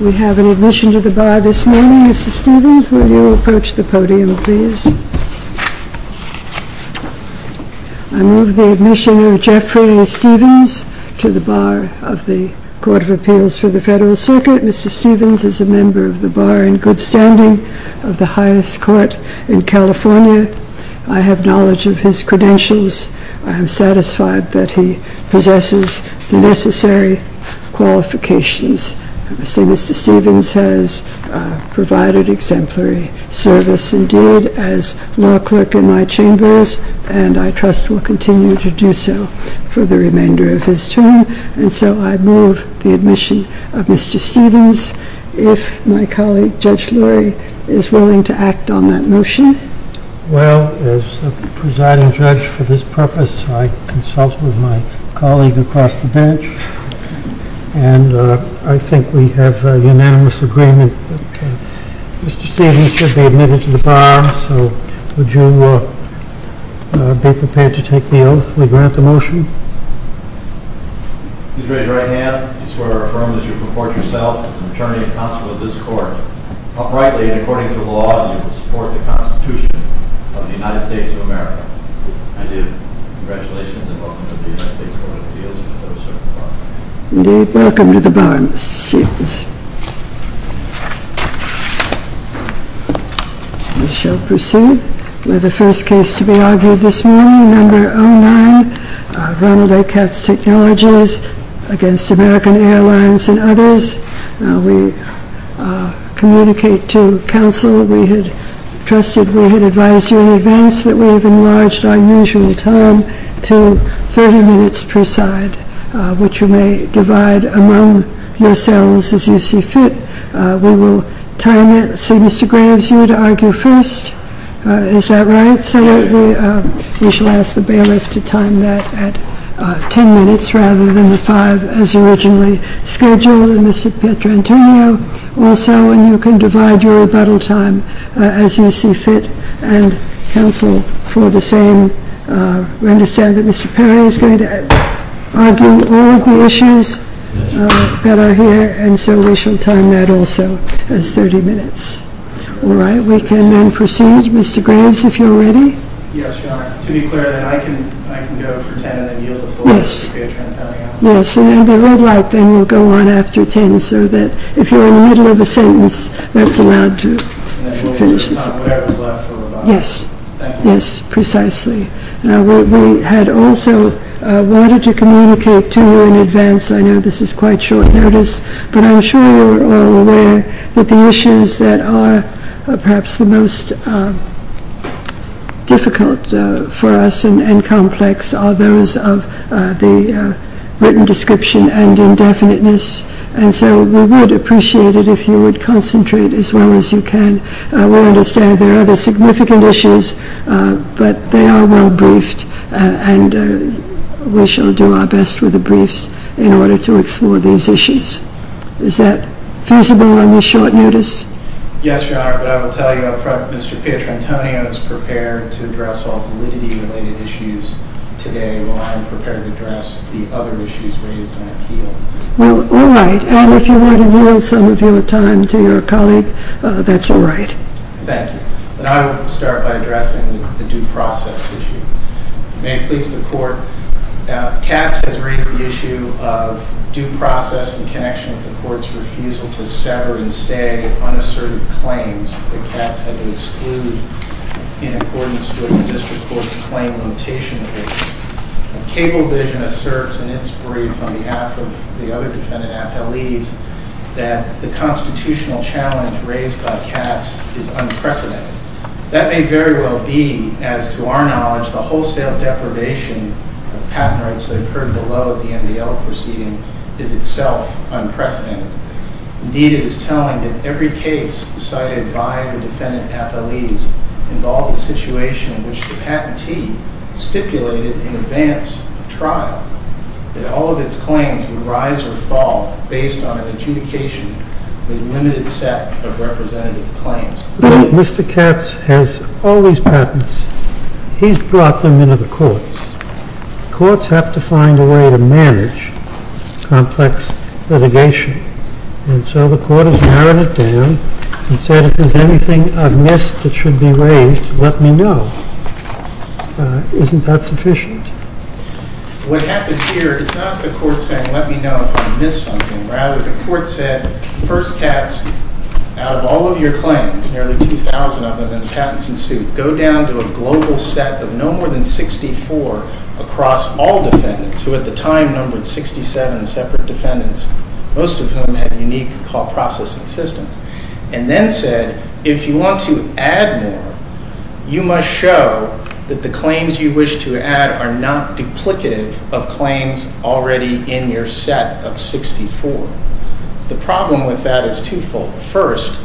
We have an admission to the bar this morning. Mr. Stevens, will you approach the podium please? I move the admission of Jeffrey Stevens to the bar of the Court of Appeals for the Federal Circuit. Mr. Stevens is a member of the bar in good standing of the highest court in California. I have knowledge of his credentials. I am satisfied that he possesses the necessary qualifications. Mr. Stevens has provided exemplary service indeed as law clerk in my chambers, and I trust will continue to do so for the remainder of his term. And so I move the admission of Mr. Stevens. If my colleague Judge Lurie is willing to act on that motion. Well, as the presiding judge for this purpose, I consult with my colleague across the bench, and I think we have unanimous agreement that Mr. Stevens should be admitted to the bar. So would you be prepared to take the oath to grant the motion? With your right hand, I swear to affirm that you report yourself to the attorney and counsel of this court, uprightly and according to the law, in support of the Constitution of the United States of America. I do. Congratulations and welcome to the United States Court of Appeals. You're welcome to the bar, Mr. Stevens. We shall proceed. We have a first case to be argued this morning, a member only, Ronald O. Katz acknowledges against American Airlines and others. We communicate to counsel. We had trusted, we had advised you in advance that we have enlarged our usual time to 30 minutes per side, which you may divide among yourselves as you see fit. We will time it so Mr. Graves, you would argue first. Is that right? So we shall ask the bailiffs to time that at 10 minutes rather than the five as originally scheduled. And Mr. Pietrantino also, and you can divide your rebuttal time as you see fit. And counsel for the same, we understand that Mr. Perry is going to argue all of the issues that are here, and so we shall time that also as 30 minutes. All right, we can then proceed. Mr. Graves, if you're ready. Yes, Your Honor. To be clear, I can go for 10 and you can go for 4. Yes, and if you would like, then we'll go on after 10 so that if you're in the middle of a sentence, that's allowed to finish it. Yes, yes, precisely. Now we had also wanted to communicate to you in advance, I know this is quite short notice, but I'm sure you're all aware that the issues that are perhaps the most difficult for us and complex are those of the written description and indefiniteness. And so we would appreciate it if you would concentrate as well as you can. I will understand there are other significant issues, but they are well briefed, and we shall do our best with the briefs in order to explore those issues. Is that feasible on your short notice? Yes, Your Honor, but I will tell you up front, Mr. Pietrantino is prepared to address all of the related issues today while I'm prepared to address the other issues raised in the appeal. Well, all right. And if you would allow some of your time to your colleague, that's all right. Thank you. And I will start by addressing the due process issue. May it please the Court, Katz has raised the issue of due process in connection with the Court's refusal to sever and say of unassertive claims that Katz has excluded in accordance with the district court's claim limitation case. Cablevision asserts in its brief on behalf of the other defendant affiliates that the constitutional challenge raised by Katz is unprecedented. That may very well be, as to our knowledge, the wholesale deprivation of patent rights incurred below the MDL proceeding is itself unprecedented. Indeed, it is telling that every case decided by the defendant affiliates involves a situation in which the patentee stipulated in advance of trial that all of its claims would rise or fall based on an adjudication with a limited set of representative claims. Mr. Katz has all these patents. He's brought them into the courts. Courts have to find a way to manage complex litigation. And so the Court has narrowed it down and said, if there's anything amiss that should be raised, let me know. Isn't that sufficient? What happens here is not the Court saying, let me know if I've missed something. Rather, the Court said, first task, out of all of your claims, nearly 2,000 of them have been patents in suit. Go down to a global set of no more than 64 across all defendants, who at the time numbered 67 separate defendants, most of whom had unique call processing systems, and then said, if you want to add more, you must show that the claims you wish to add are not duplicative of claims already in your set of 64. The problem with that is twofold. First,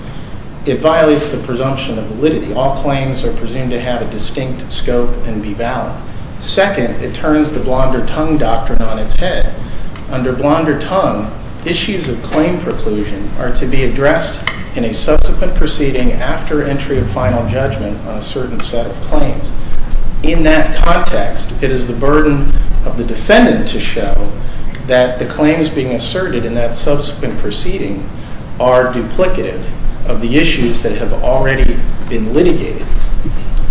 it violates the presumption of validity. All claims are presumed to have a distinct scope and be valid. Second, it turns the blonder tongue doctrine on its head. Under blonder tongue, issues of claim preclusion are to be addressed in a subsequent proceeding after entry of final judgment on a certain set of claims. In that context, it is the burden of the defendant to show that the claims being asserted in that subsequent proceeding are duplicative of the issues that have already been litigated.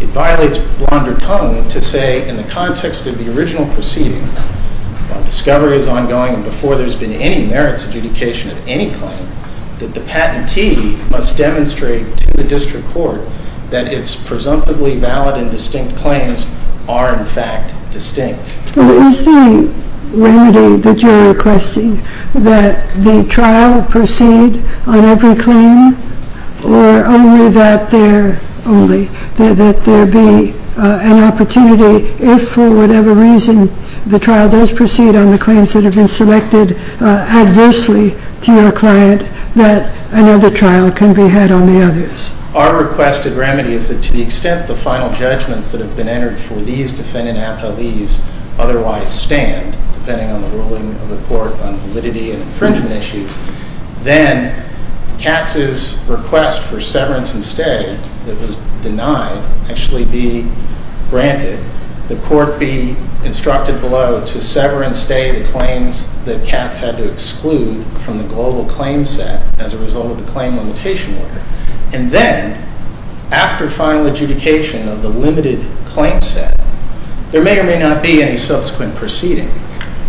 It violates blonder tongue to say, in the context of the original proceeding, discovery is ongoing before there's been any merits adjudication of any claim, that the patentee must demonstrate to the district court that its presumptively valid and distinct claims are, in fact, distinct. Is the remedy that you're requesting that the trial proceed on every claim or only that there be an opportunity if, for whatever reason, the trial does proceed on the claims that have been selected adversely to your client, that another trial can be had on the others? Our request of remedy is that to the extent the final judgment that have been entered for these defending after these otherwise stand, depending on the ruling of the court on validity and infringement issues, then Katz's request for severance and stay that was denied actually be granted. The court be instructed below to sever and stay the claims that Katz had to exclude from the global claim set as a result of the claim limitation order. And then, after final adjudication of the limited claim set, there may or may not be any subsequent proceeding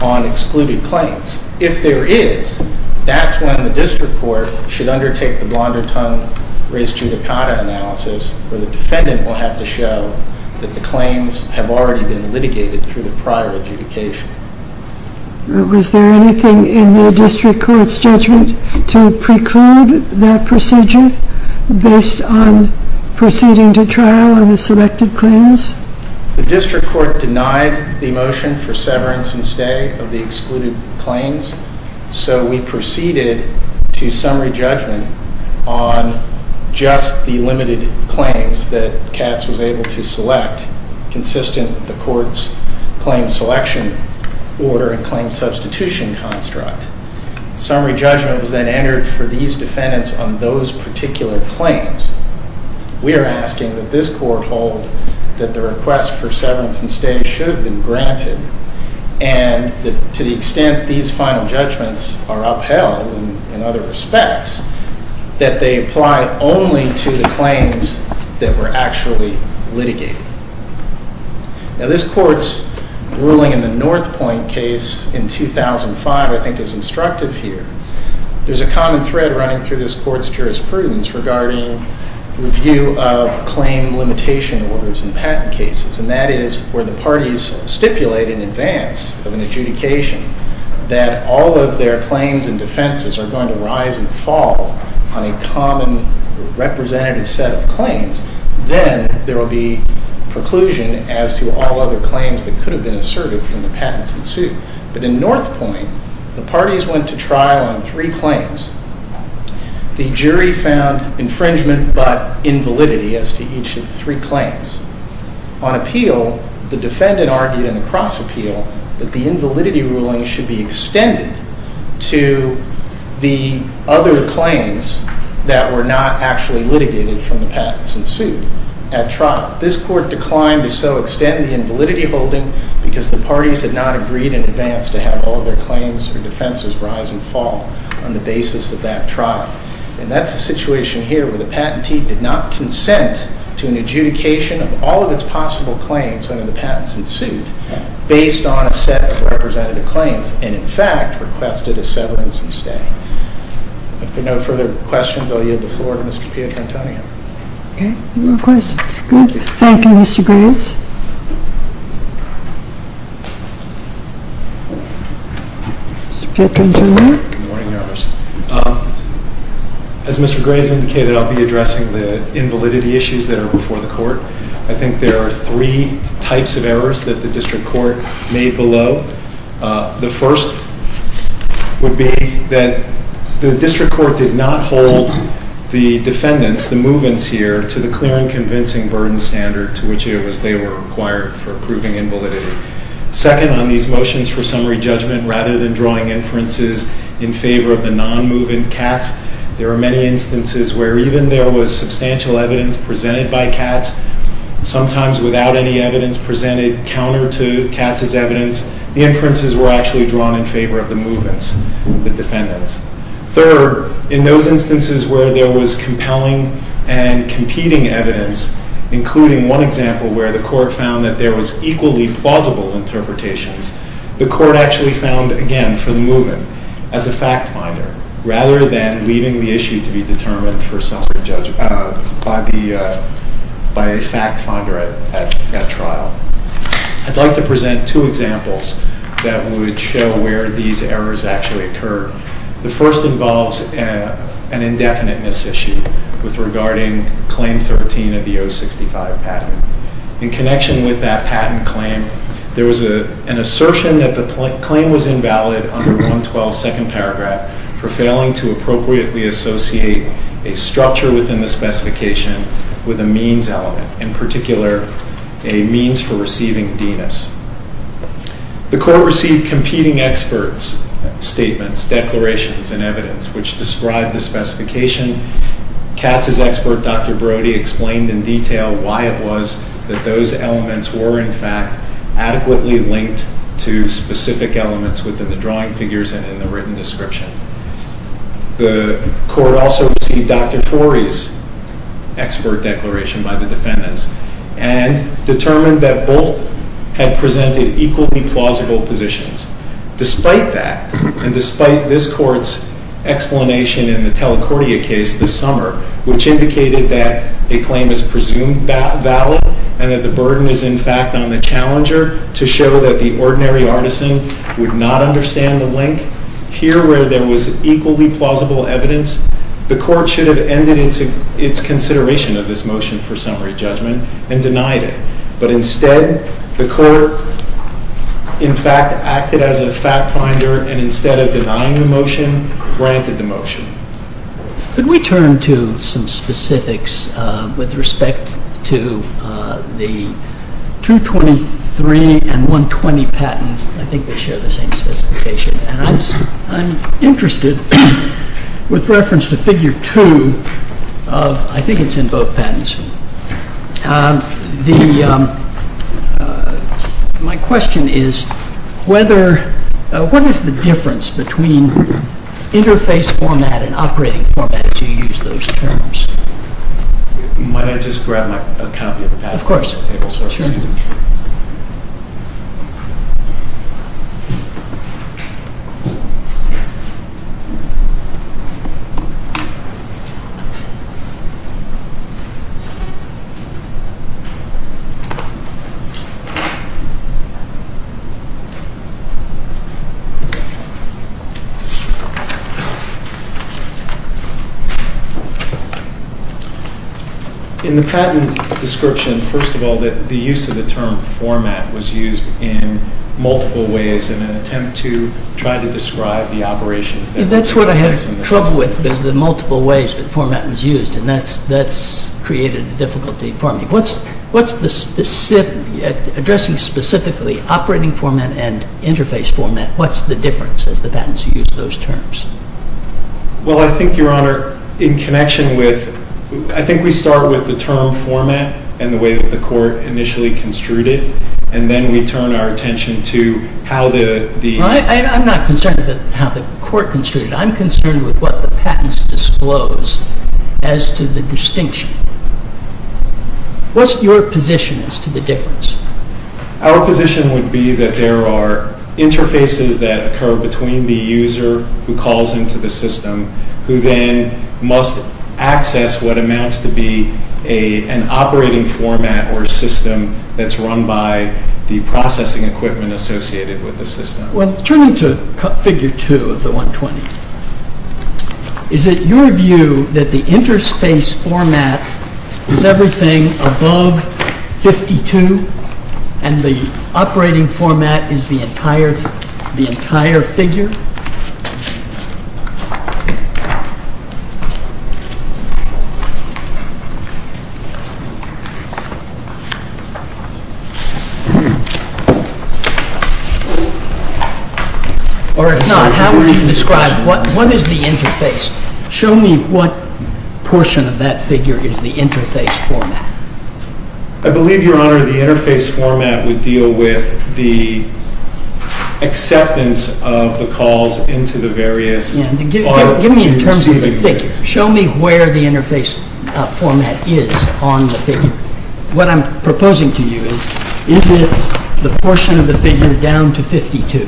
on excluded claims. If there is, that's when the district court should undertake the blonder-tongue-raised-judicata analysis where the defendant will have to show that the claims have already been litigated through the prior adjudication. Was there anything in the district court's judgment to preclude that procedure based on proceeding to trial on the selected claims? The district court denied the motion for severance and stay of the excluded claims, so we proceeded to summary judgment on just the limited claims that Katz was able to select, consisting of the court's claim selection order and claim substitution construct. Summary judgment was then entered for these defendants on those particular claims. We are asking that this court hold that the request for severance and stay should be granted and that to the extent these final judgments are upheld in other respects, that they apply only to the claims that were actually litigated. Now, this court's ruling in the North Point case in 2005, I think, is instructive here. There's a common thread running through this court's jurisprudence regarding review of claim limitation orders in patent cases, and that is where the parties stipulate in advance of an adjudication that although their claims and defenses are going to rise and fall on a common representative set of claims, then there will be preclusion as to all other claims that could have been asserted from the patent suit. But in North Point, the parties went to trial on three claims. The jury found infringement but invalidity as to each of the three claims. On appeal, the defendant argued in a cross appeal that the invalidity ruling should be extended to the other claims that were not actually litigated from the patents in suit at trial. This court declined to so extend the invalidity holding because the parties had not agreed in advance to have all their claims and defenses rise and fall on the basis of that trial. And that's the situation here where the patentee did not consent to an adjudication of all of its possible claims under the patents in suit based on a set of representative claims, and in fact, requested a severance and stay. If there are no further questions, I'll yield the floor to Mr. Piantonio. Okay, no questions. Thank you, Mr. Gools. Mr. Piantonio? Good morning, Your Honor. As Mr. Graves indicated, I'll be addressing the invalidity issues that are before the court. I think there are three types of errors that the district court made below. The first would be that the district court did not hold the defendants, the movements here, to the clear and convincing burden standard to which they were required for proving invalidity. Second, on these motions for summary judgment, rather than drawing inferences in favor of the non-moving cats, there are many instances where even though there was substantial evidence presented by cats, sometimes without any evidence presented counter to cats' evidence, the inferences were actually drawn in favor of the movements of the defendants. Third, in those instances where there was compelling and competing evidence, including one example where the court found that there was equally plausible interpretations, the court actually found, again, for the movement, as a fact finder, rather than leaving the issue to be determined by a fact finder at trial. I'd like to present two examples that would show where these errors actually occur. The first involves an indefinite mis-issue regarding claim 13 of the O-65 patent. In connection with that patent claim, there was an assertion that the claim was invalid under 112, second paragraph, for failing to appropriately associate a structure within the specification with a means element, in particular, a means for receiving D-ness. The court received competing experts' statements, declarations, and evidence, which described the specification. Cats' expert, Dr. Brody, explained in detail why it was that those elements were, in fact, adequately linked to specific elements within the drawing figures and in the written description. The court also received Dr. Torrey's expert declaration by the defendants and determined that both had presented equally plausible positions. Despite that, and despite this court's explanation in the Telecordia case this summer, which indicated that a claim is presumed valid and that the burden is, in fact, on the challenger to show that the ordinary artisan would not understand the link, here, where there was equally plausible evidence, the court should have ended its consideration of this motion for summary judgment and denied it. But instead, the court, in fact, acted as a fact finder and instead of denying the motion, granted the motion. Could we turn to some specifics with respect to the 223 and 120 patents? I think they share the same specification. I'm interested with reference to Figure 2. I think it's in both patents. My question is, what is the difference between interface format and operating format if you use those terms? Might I just grab a copy of that? Of course. Thank you. In the patent description, first of all, the use of the term format was used in multiple ways in an attempt to try to describe the operation. That's what I had trouble with, the multiple ways the format was used, and that's created difficulty for me. What's the specific, addressing specifically operating format and interface format, what's the difference as the patents use those terms? Well, I think, Your Honor, in connection with, I think we start with the term format and the way that the court initially construed it, and then we turn our attention to how the... I'm not concerned with how the court construed it. I'm concerned with what the patents disclose as to the distinction. What's your position as to the difference? Our position would be that there are interfaces that occur between the user who calls into the system, who then must access what amounts to be an operating format or a system that's run by the processing equipment associated with the system. Well, turn to Figure 2 of the 120. Is it your view that the interspace format is everything above 52 and the operating format is the entire figure? No, how would you describe it? What is the interface? Show me what portion of that figure is the interface format. I believe, Your Honor, the interface format would deal with the acceptance of the calls into the various... Give me in terms of the figure. Show me where the interface format is on the figure. What I'm proposing to you is, is it the portion of the figure down to 52?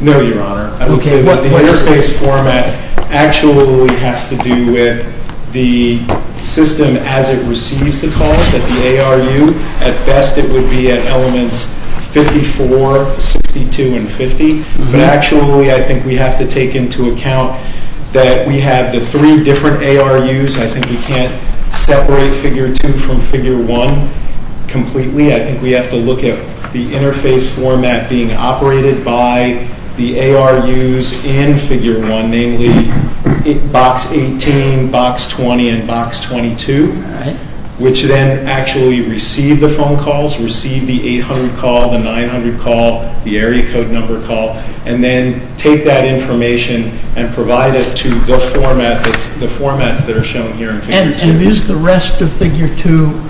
No, Your Honor. The interface format actually has to do with the system as it receives the calls at the ARU. At best, it would be at elements 54, 62, and 50. Actually, I think we have to take into account that we have the three different ARUs. I think we can't separate Figure 2 from Figure 1 completely. I think we have to look at the interface format being operated by the ARUs and Figure 1, namely Box 18, Box 20, and Box 22, which then actually receive the phone calls, receive the 800 call, the 900 call, the area code number call, and then take that information and provide it to the format that are shown here in Figure 2. And is the rest of Figure 2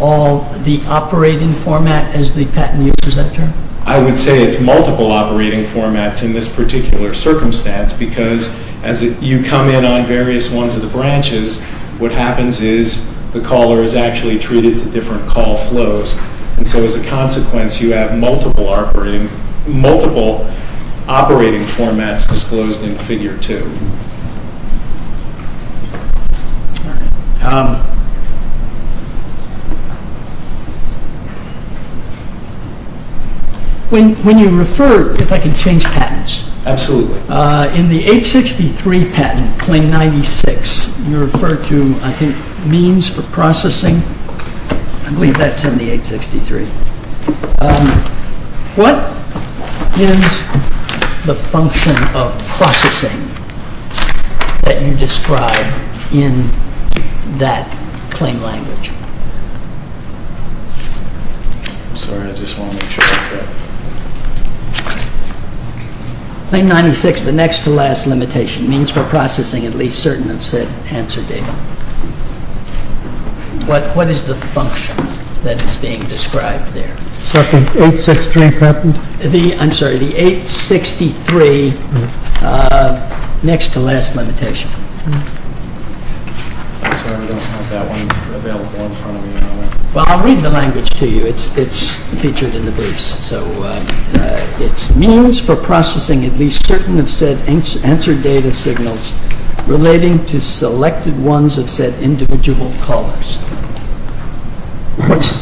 all the operating format as the patent user sector? I would say it's multiple operating formats in this particular circumstance because as you come in on various ones of the branches, what happens is the caller is actually treated to different call flows. And so as a consequence, you have multiple operating formats disclosed in Figure 2. When you refer, if I can change patents. Absolutely. In the 863 patent, Claim 96, you refer to, I think, means for processing. I believe that's in the 863. What is the function of processing that you describe in that claim language? Claim 96, the next to last limitation, means for processing at least certain answer data. But what is the function that is being described there? The 863 patent? I'm sorry, the 863 next to last limitation. Well, I'll read the language to you. It's featured in the books. So, it's means for processing at least certain answer data signals relating to selected ones of said individual callers.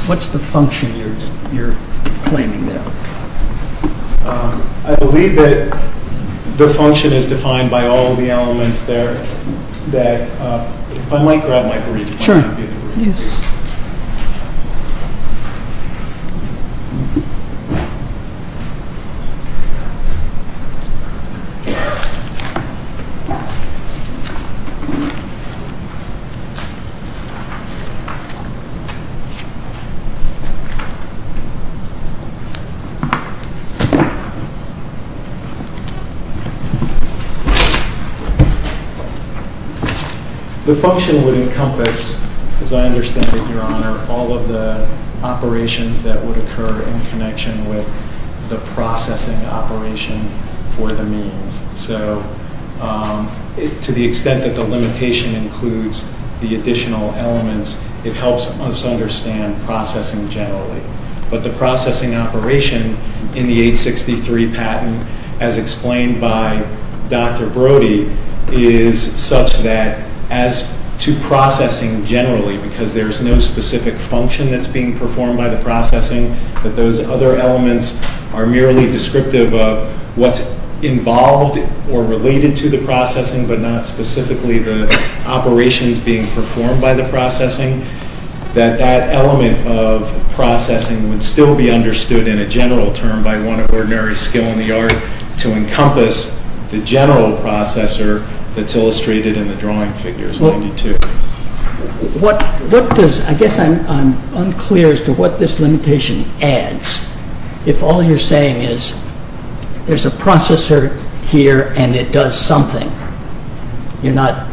What's the function you're claiming there? I believe that the function is defined by all of the elements there. If I might grab my brief. Sure. Thank you. The function would encompass, as I understand it, Your Honor, all of the operations that would occur in connection with the processing operation for the means. So, to the extent that the limitation includes the additional elements, it helps us understand processing generally. But the processing operation in the 863 patent, as explained by Dr. Brody, is such that as to processing generally, because there's no specific function that's being performed by the processing, that those other elements are merely descriptive of what's involved or related to the processing, but not specifically the operations being performed by the processing, that that element of processing would still be understood in a general term by one ordinary skill in the art to encompass the general processor that's illustrated in the drawing figures. I guess I'm unclear as to what this limitation adds. If all you're saying is there's a processor here and it does something, you're not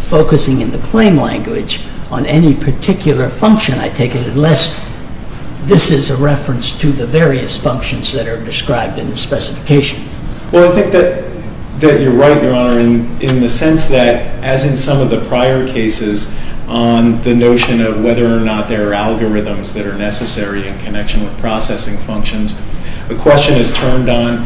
focusing in the plain language on any particular function, I take it, unless this is a reference to the various functions that are described in the specification. Well, I think that you're right, Warren, in the sense that, as in some of the prior cases, on the notion of whether or not there are algorithms that are necessary in connection with processing functions, the question is turned on,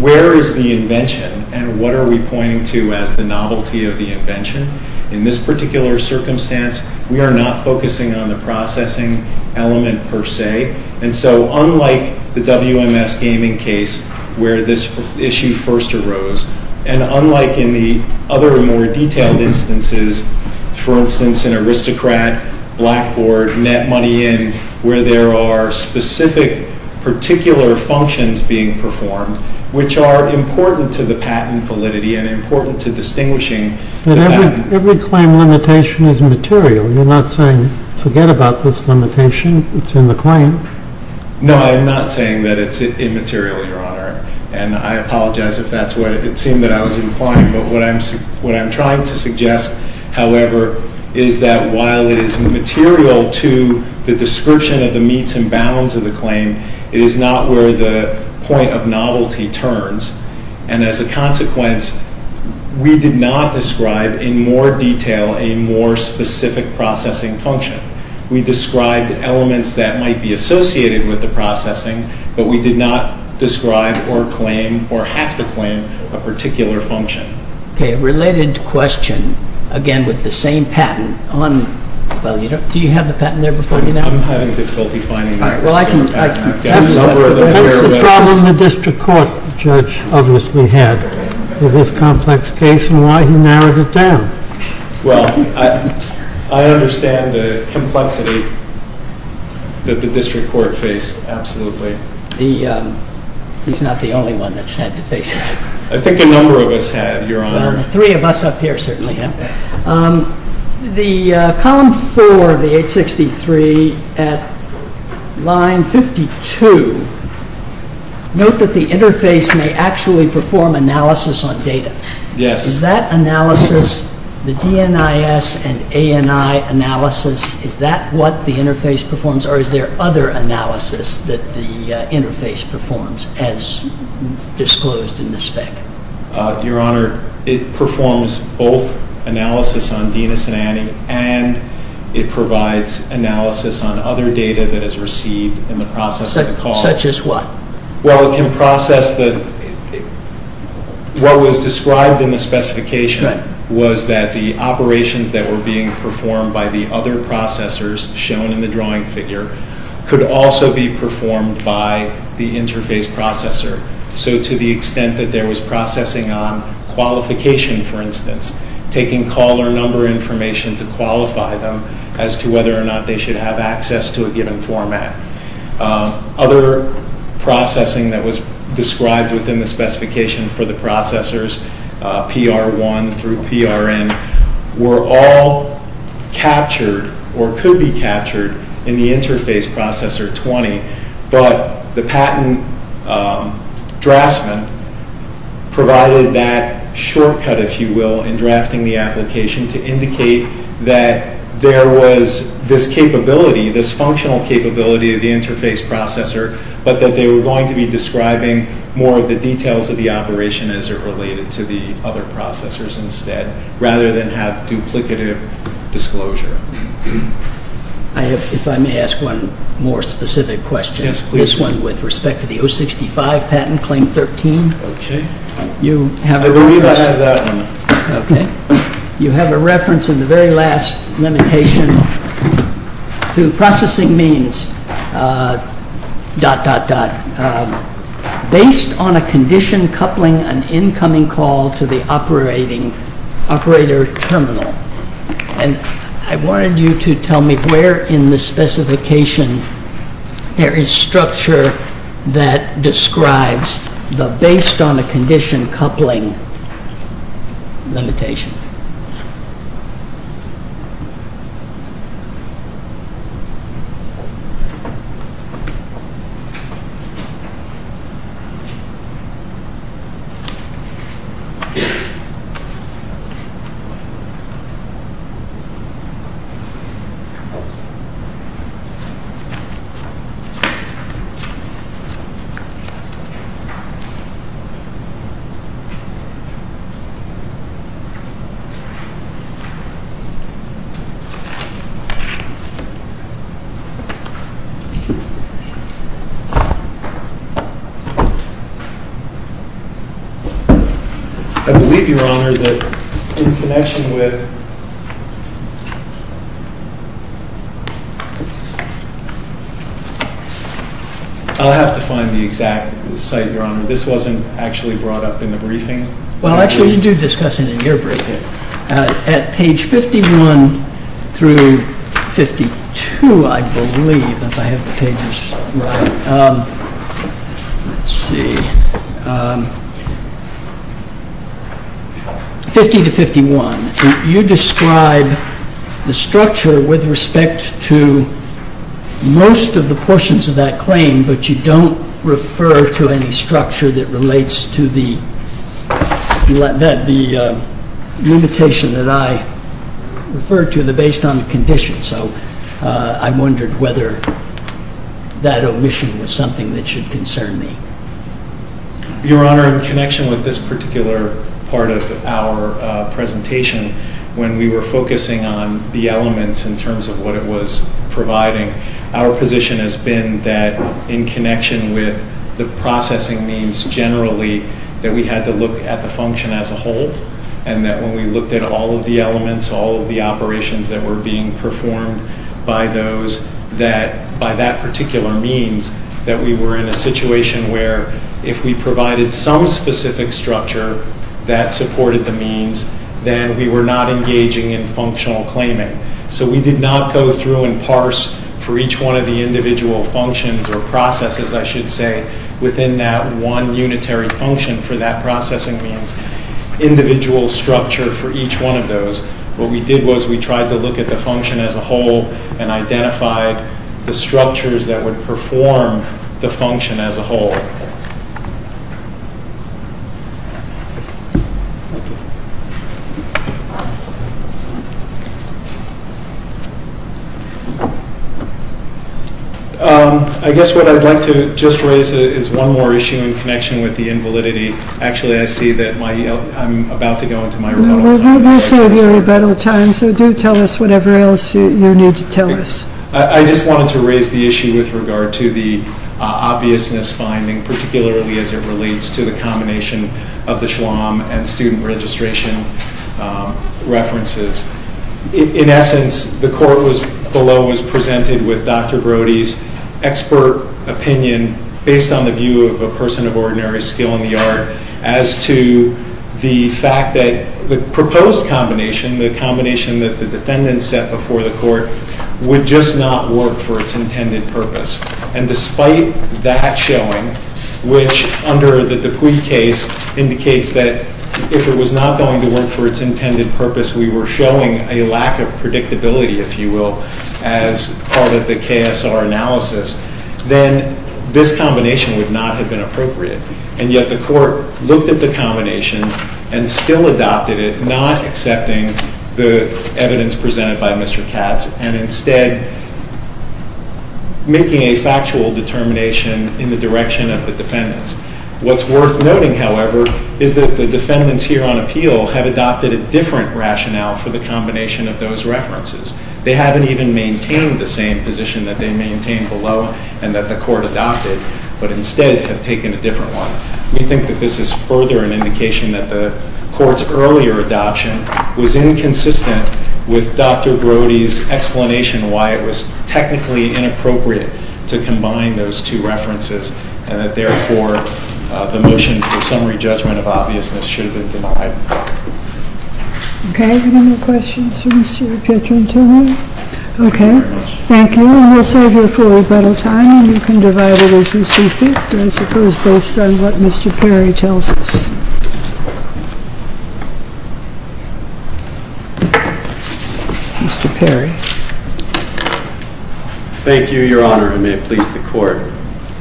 where is the invention, and what are we pointing to as the novelty of the invention? In this particular circumstance, we are not focusing on the processing element per se. Unlike the WMS gaming case where this issue first arose, and unlike in the other more detailed instances, for instance an aristocrat blackboard, net money in, where there are specific particular functions being performed, which are important to the patent validity and important to distinguishing the patent. Every claim limitation is material. You're not saying forget about this limitation, it's in the claim. No, I'm not saying that it's immaterial, Your Honor, and I apologize if that's what it seemed that I was implying, but what I'm trying to suggest, however, is that while it is material to the description of the means and bounds of the claim, it is not where the point of novelty turns, and as a consequence, we did not describe in more detail a more specific processing function. We described elements that might be associated with the processing, but we did not describe or claim or have to claim a particular function. Okay, related question, again with the same patent. Do you have the patent there before me now? I'm having difficulty finding it. That's the problem the district court judge obviously had with this complex case, and why he narrowed it down. Well, I understand the complexity that the district court faced, absolutely. He's not the only one that's had to face that. I think a number of us have, Your Honor. Three of us up here certainly have. The column four of the 863 at line 52, note that the interface may actually perform analysis on data. Is that analysis, the DNIS and ANI analysis, is that what the interface performs, or is there other analysis that the interface performs as disclosed in the state? Your Honor, it performs both analysis on DNIS and ANI, and it provides analysis on other data that it's received in the process of the call. Such as what? Well, in process, what was described in the specification was that the operations that were being performed by the other processors shown in the drawing figure could also be performed by the interface processor. So to the extent that there was processing on qualification, for instance, taking call or number information to qualify them as to whether or not they should have access to a given format. Other processing that was described within the specification for the processors, PR1 through PRN, were all captured or could be captured in the interface processor 20, but the patent draftsman provided that shortcut, if you will, in drafting the application to indicate that there was this capability, this functional capability of the interface processor, but that they were going to be describing more of the details of the operation as it related to the other processors instead, rather than have duplicative disclosure. If I may ask one more specific question. Yes, please. This one with respect to the 065 patent claim 13. Okay. You have a reference. I believe I have that one. Okay. You have a reference in the very last limitation to the processing means dot, dot, dot, based on a condition coupling an incoming call to the operator terminal. I wanted you to tell me where in the specification there is structure that describes the based on a condition coupling limitation. I believe, Your Honor, in connection with... I'll have to find the exact site, Your Honor. This wasn't actually brought up in the briefing. Well, actually, you do discuss it in your briefing. At page 51 through 52, I believe, Let's see. 50 to 51. You describe the structure with respect to most of the portions of that claim, but you don't refer to any structure that relates to the limitation that I referred to based on the condition. So I wondered whether that omission was something that should concern me. Your Honor, in connection with this particular part of our presentation, when we were focusing on the elements in terms of what it was providing, our position has been that in connection with the processing means generally that we had to look at the function as a whole and that when we looked at all of the elements, all of the operations that were being performed by that particular means, that we were in a situation where if we provided some specific structure that supported the means, then we were not engaging in functional claiming. So we did not go through and parse for each one of the individual functions or processes, I should say, within that one unitary function for that processing means. We didn't have an individual structure for each one of those. What we did was we tried to look at the function as a whole and identify the structures that would perform the function as a whole. I guess what I'd like to just raise is one more issue in connection with the invalidity. Actually, I see that I'm about to go into microphone. No, we do serve you a better time, so do tell us whatever else you need to tell us. I just wanted to raise the issue with regard to the obvious misfinding, particularly as it relates to the combination of the Schwamm and student registration references. In essence, the court below was presented with Dr. Brody's expert opinion based on the view of a person of ordinary skill in the art as to the fact that the proposed combination, the combination that the defendant set before the court, would just not work for its intended purpose. Despite that showing, which under the Dupuy case indicates that if it was not going to work for its intended purpose, we were showing a lack of predictability, if you will, as part of the KSR analysis, then this combination would not have been appropriate. And yet the court looked at the combination and still adopted it, not accepting the evidence presented by Mr. Katz and instead making a factual determination in the direction of the defendants. What's worth noting, however, is that the defendants here on appeal have adopted a different rationale for the combination of those references. They haven't even maintained the same position that they maintained below and that the court adopted, but instead have taken a different one. We think that this is further an indication that the court's earlier adoption was inconsistent with Dr. Brody's explanation why it was technically inappropriate to combine those two references and that therefore the motion for summary judgment of obviousness should have been denied. Okay. Any more questions for Mr. Pietrantonio? Okay. Thank you. And we'll save you a little time and you can divide it as you see fit. I suppose based on what Mr. Perry tells us. Mr. Perry. Thank you, Your Honor, and may it please the court.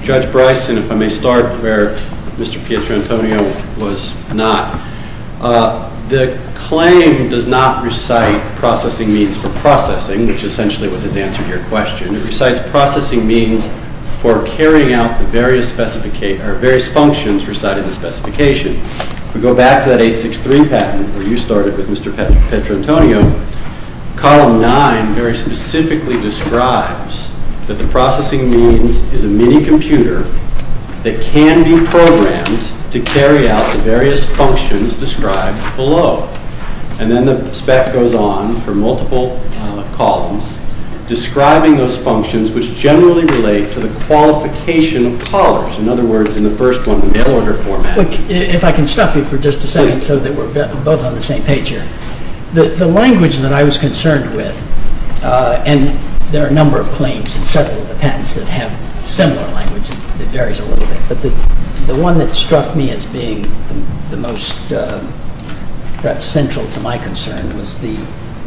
Judge Bryson, if I may start where Mr. Pietrantonio was not. The claim does not recite processing means for processing, which essentially would have answered your question. It recites processing means for carrying out the various functions recited in the specification. We go back to that 863 patent where you started with Mr. Pietrantonio. Column 9 very specifically describes that the processing means is a mini-computer that can do programs to carry out the various functions described below. And then the spec goes on for multiple columns describing those functions which generally relate to the qualification of tolerance. In other words, in the first one, the mail-order format. If I can stop you for just a second so that we're both on the same page here. The language that I was concerned with, and there are a number of claims and several patents that have similar languages. It varies a little bit. But the one that struck me as being the most central to my concern was the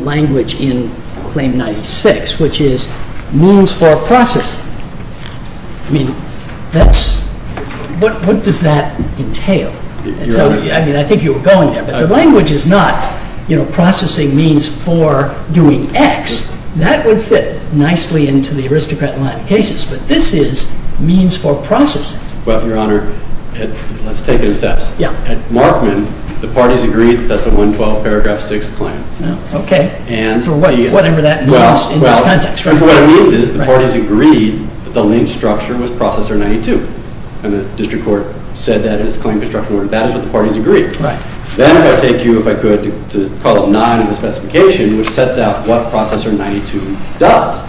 language in Claim 96, which is means for processing. I mean, what does that entail? I mean, I think you were going there. But the language is not, you know, processing means for doing X. That would fit nicely into the aristocratic cases. But this is means for processing. Well, Your Honor, let's take it as that. At Markman, the parties agreed that that's a 112 paragraph 6 claim. Okay. Whatever that means in this context. Well, what I mean is the parties agreed that the lean structure was Processor 92. And the district court said that its claims were in balance with the parties' agreement. Then I'll take you, if I could, to column 9 in the specification which sets out what Processor 92 does,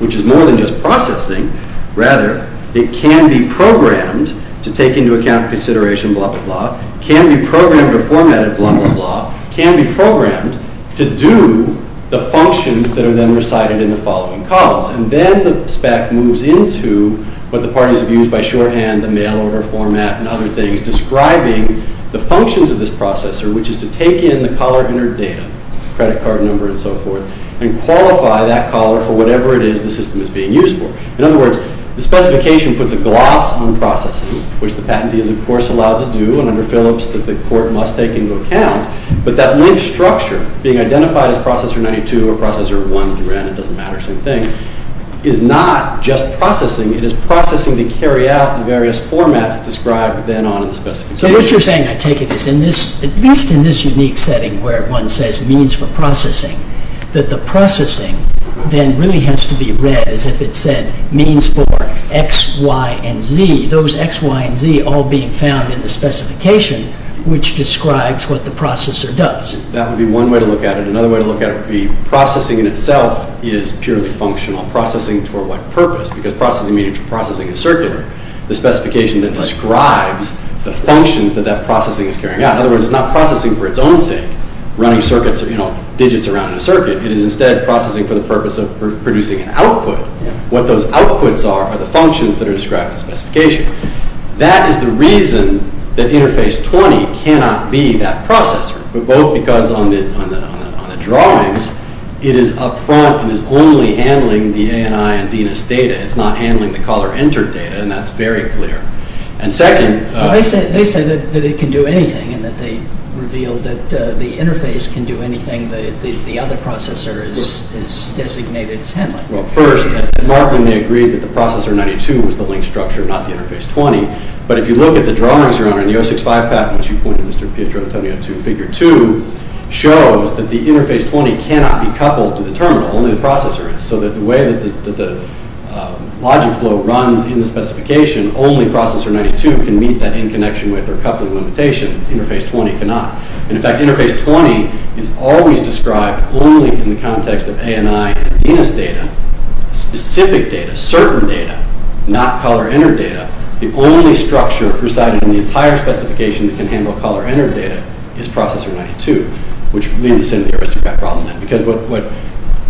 which is more than just processing. Rather, it can be programmed to take into account consideration, blah, blah, blah. It can be programmed or formatted, blah, blah, blah. It can be programmed to do the functions that are then recited in the following columns. And then the spec moves into what the parties have used by shorthand, the mail order format, and other things describing the functions of this processor, which is to take in the collar entered data, credit card number and so forth, and qualify that collar for whatever it is the system is being used for. In other words, the specification puts a gloss on processing, which the patentee is, of course, allowed to do under Phillips that the court must take into account. But that lean structure being identified as Processor 92 or Processor 1, it doesn't matter, same thing, is not just processing. It is processing to carry out the various formats described then on the specification. So what you're saying, I take it, is at least in this unique setting where one says means for processing, that the processing then really has to be read as if it said means for X, Y, and Z. Those X, Y, and Z all being found in the specification, which describes what the processor does. That would be one way to look at it. Another way to look at it would be processing in itself is purely functional. Processing for what purpose? Because processing means processing in circular. The specification that describes the functions that that processing is carrying out. In other words, it's not processing for its own sake, running circuits, you know, digits around a circuit. It is instead processing for the purpose of producing an output. What those outputs are are the functions that are described in the specification. That is the reason that Interface 20 cannot be that processor, both because on the drawings it is up front and is only handling the ANI and DDoS data. It's not handling the call or enter data, and that's very clear. And second... Well, they say that it can do anything, and that they reveal that the interface can do anything, but the other processor is designated 10. Well, first, Martin may agree that the processor 92 is the link structure, not the Interface 20, but if you look at the drawings around it, and the 065 path that you pointed, Mr. Pietro, that's only up to Figure 2, shows that the Interface 20 cannot be coupled to the terminal, only the processor is, so that the way that the logic flow runs in the specification, only processor 92 can meet that interconnection with or couple the limitations. Interface 20 cannot. In fact, Interface 20 is always described only in the context of ANI and DDoS data, specific data, server data, not call or enter data. The only structure presiding in the entire specification that can handle call or enter data is processor 92, which leads to the risk of that problem. Because what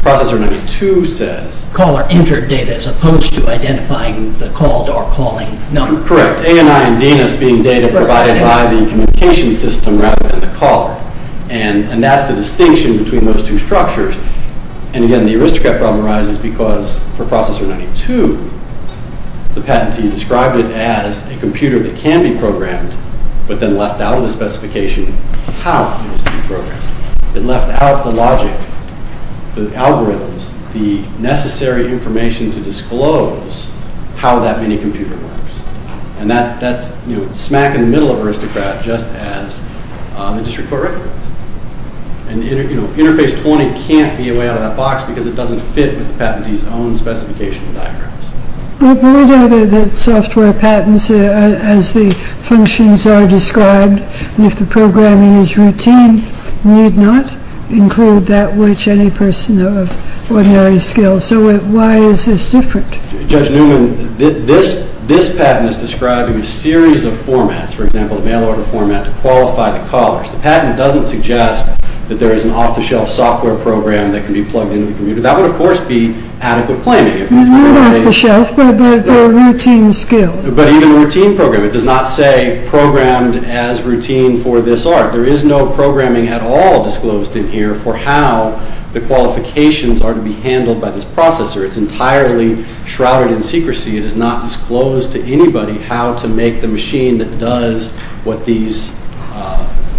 processor 92 says... Call or enter data as opposed to identifying the called or calling number. Correct. ANI and DDoS being data provided by the communication system rather than the caller. And that's the distinction between those two structures. And again, the risk of that problem arises because for processor 92, the patent team described it as a computer that can be programmed, but then left out of the specification how it can be programmed. It left out the logic, the algorithms, the necessary information to disclose how that mini-computer works. And that's smack in the middle of aristocrat, just as it's your curriculum. And Interface 20 can't be away out of that box because it doesn't fit with the patent team's own specification diagrams. Well, if you look at the software patents, as the functions are described, and if the programming is routine, need not include that which any person of ordinary skill. So why is this different? Judge Newman, this patent is describing a series of formats, for example, a mail-order format to qualify the callers. The patent doesn't suggest that there is an off-the-shelf software program that can be plugged into the computer. That would, of course, be adequate planning. Not off-the-shelf, but a routine skill. But even a routine program. It does not say programmed as routine for this art. There is no programming at all disclosed in here for how the qualifications are to be handled by this processor. It's entirely shrouded in secrecy. It is not disclosed to anybody how to make the machine that does what these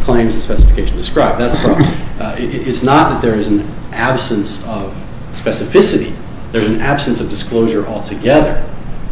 claims and specifications describe. It's not that there is an absence of specificity. There's an absence of disclosure altogether.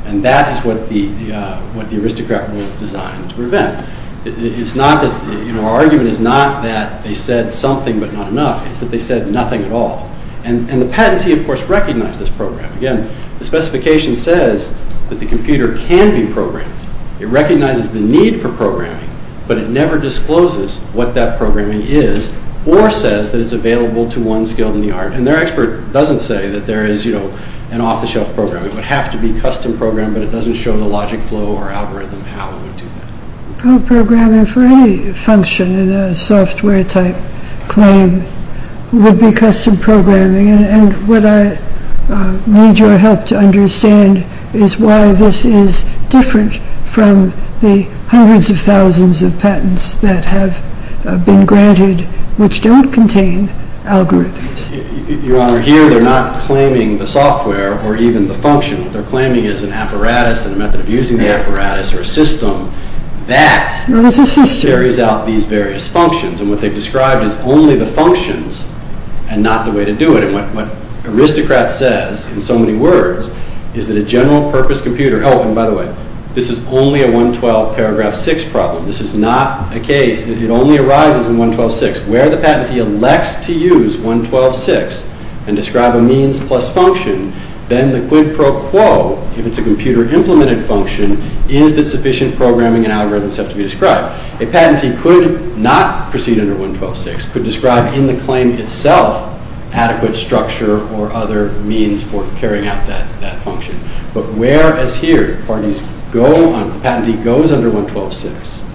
And that is what the aristocrat will design to prevent. Our argument is not that they said something but not enough. It's that they said nothing at all. And the patentee, of course, recognizes this program. Again, the specification says that the computer can be programmed. It recognizes the need for programming, but it never discloses what that programming is or says that it's available to one skill in the art. And their expert doesn't say that there is an off-the-shelf program. It would have to be custom programmed, but it doesn't show the logic flow or algorithm how it would do it. No programming for any function in a software-type claim would be custom programming. And what I need your help to understand is why this is different from the hundreds of thousands of patents that have been granted which don't contain algorithms. Your Honor, here they're not claiming the software or even the function. What they're claiming is an apparatus, a method of using the apparatus or a system that carries out these various functions. And what they've described is only the functions and not the way to do it. And what the aristocrat says in so many words is that a general-purpose computer... Oh, and by the way, this is only a 112 paragraph 6 problem. This is not a case that it only arises in 112.6. Where the patentee elects to use 112.6 and describe a means plus function, then the quid pro quo, if it's a computer-implemented function, is the sufficient programming and algorithms that have to be described. A patentee could not proceed under 112.6, could describe in the claim itself adequate structure or other means for carrying out that function. But whereas here the patentee goes under 112.6,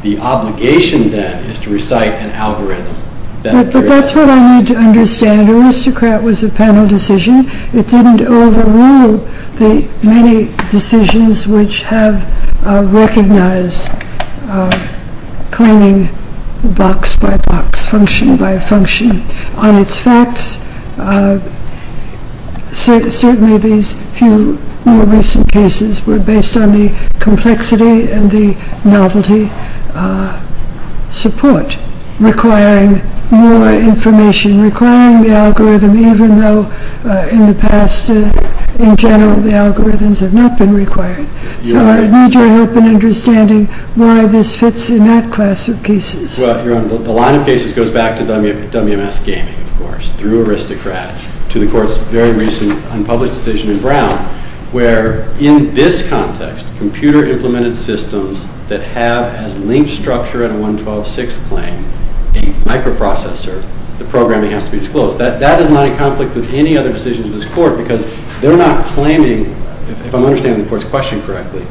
the obligation then is to recite an algorithm. But that's what I need to understand. The aristocrat was a panel decision. It didn't overrule the many decisions which have recognized claiming box by box, function by function. On its facts, certainly these few more recent cases were based on the complexity and the novelty support requiring more information, requiring the algorithm even though in the past in general the algorithms have not been required. So I need your help in understanding why this fits in that class of cases. The line of cases goes back to WMS Gaming, of course, through Aristocrat, to the court's very recent unpublished decision in Brown, where in this context, computer-implemented systems that have a linked structure in a 112.6 claim, a microprocessor, the programming has to be disclosed. That is not in conflict with any other decision of this court because they're not claiming, if I'm understanding the court's question correctly,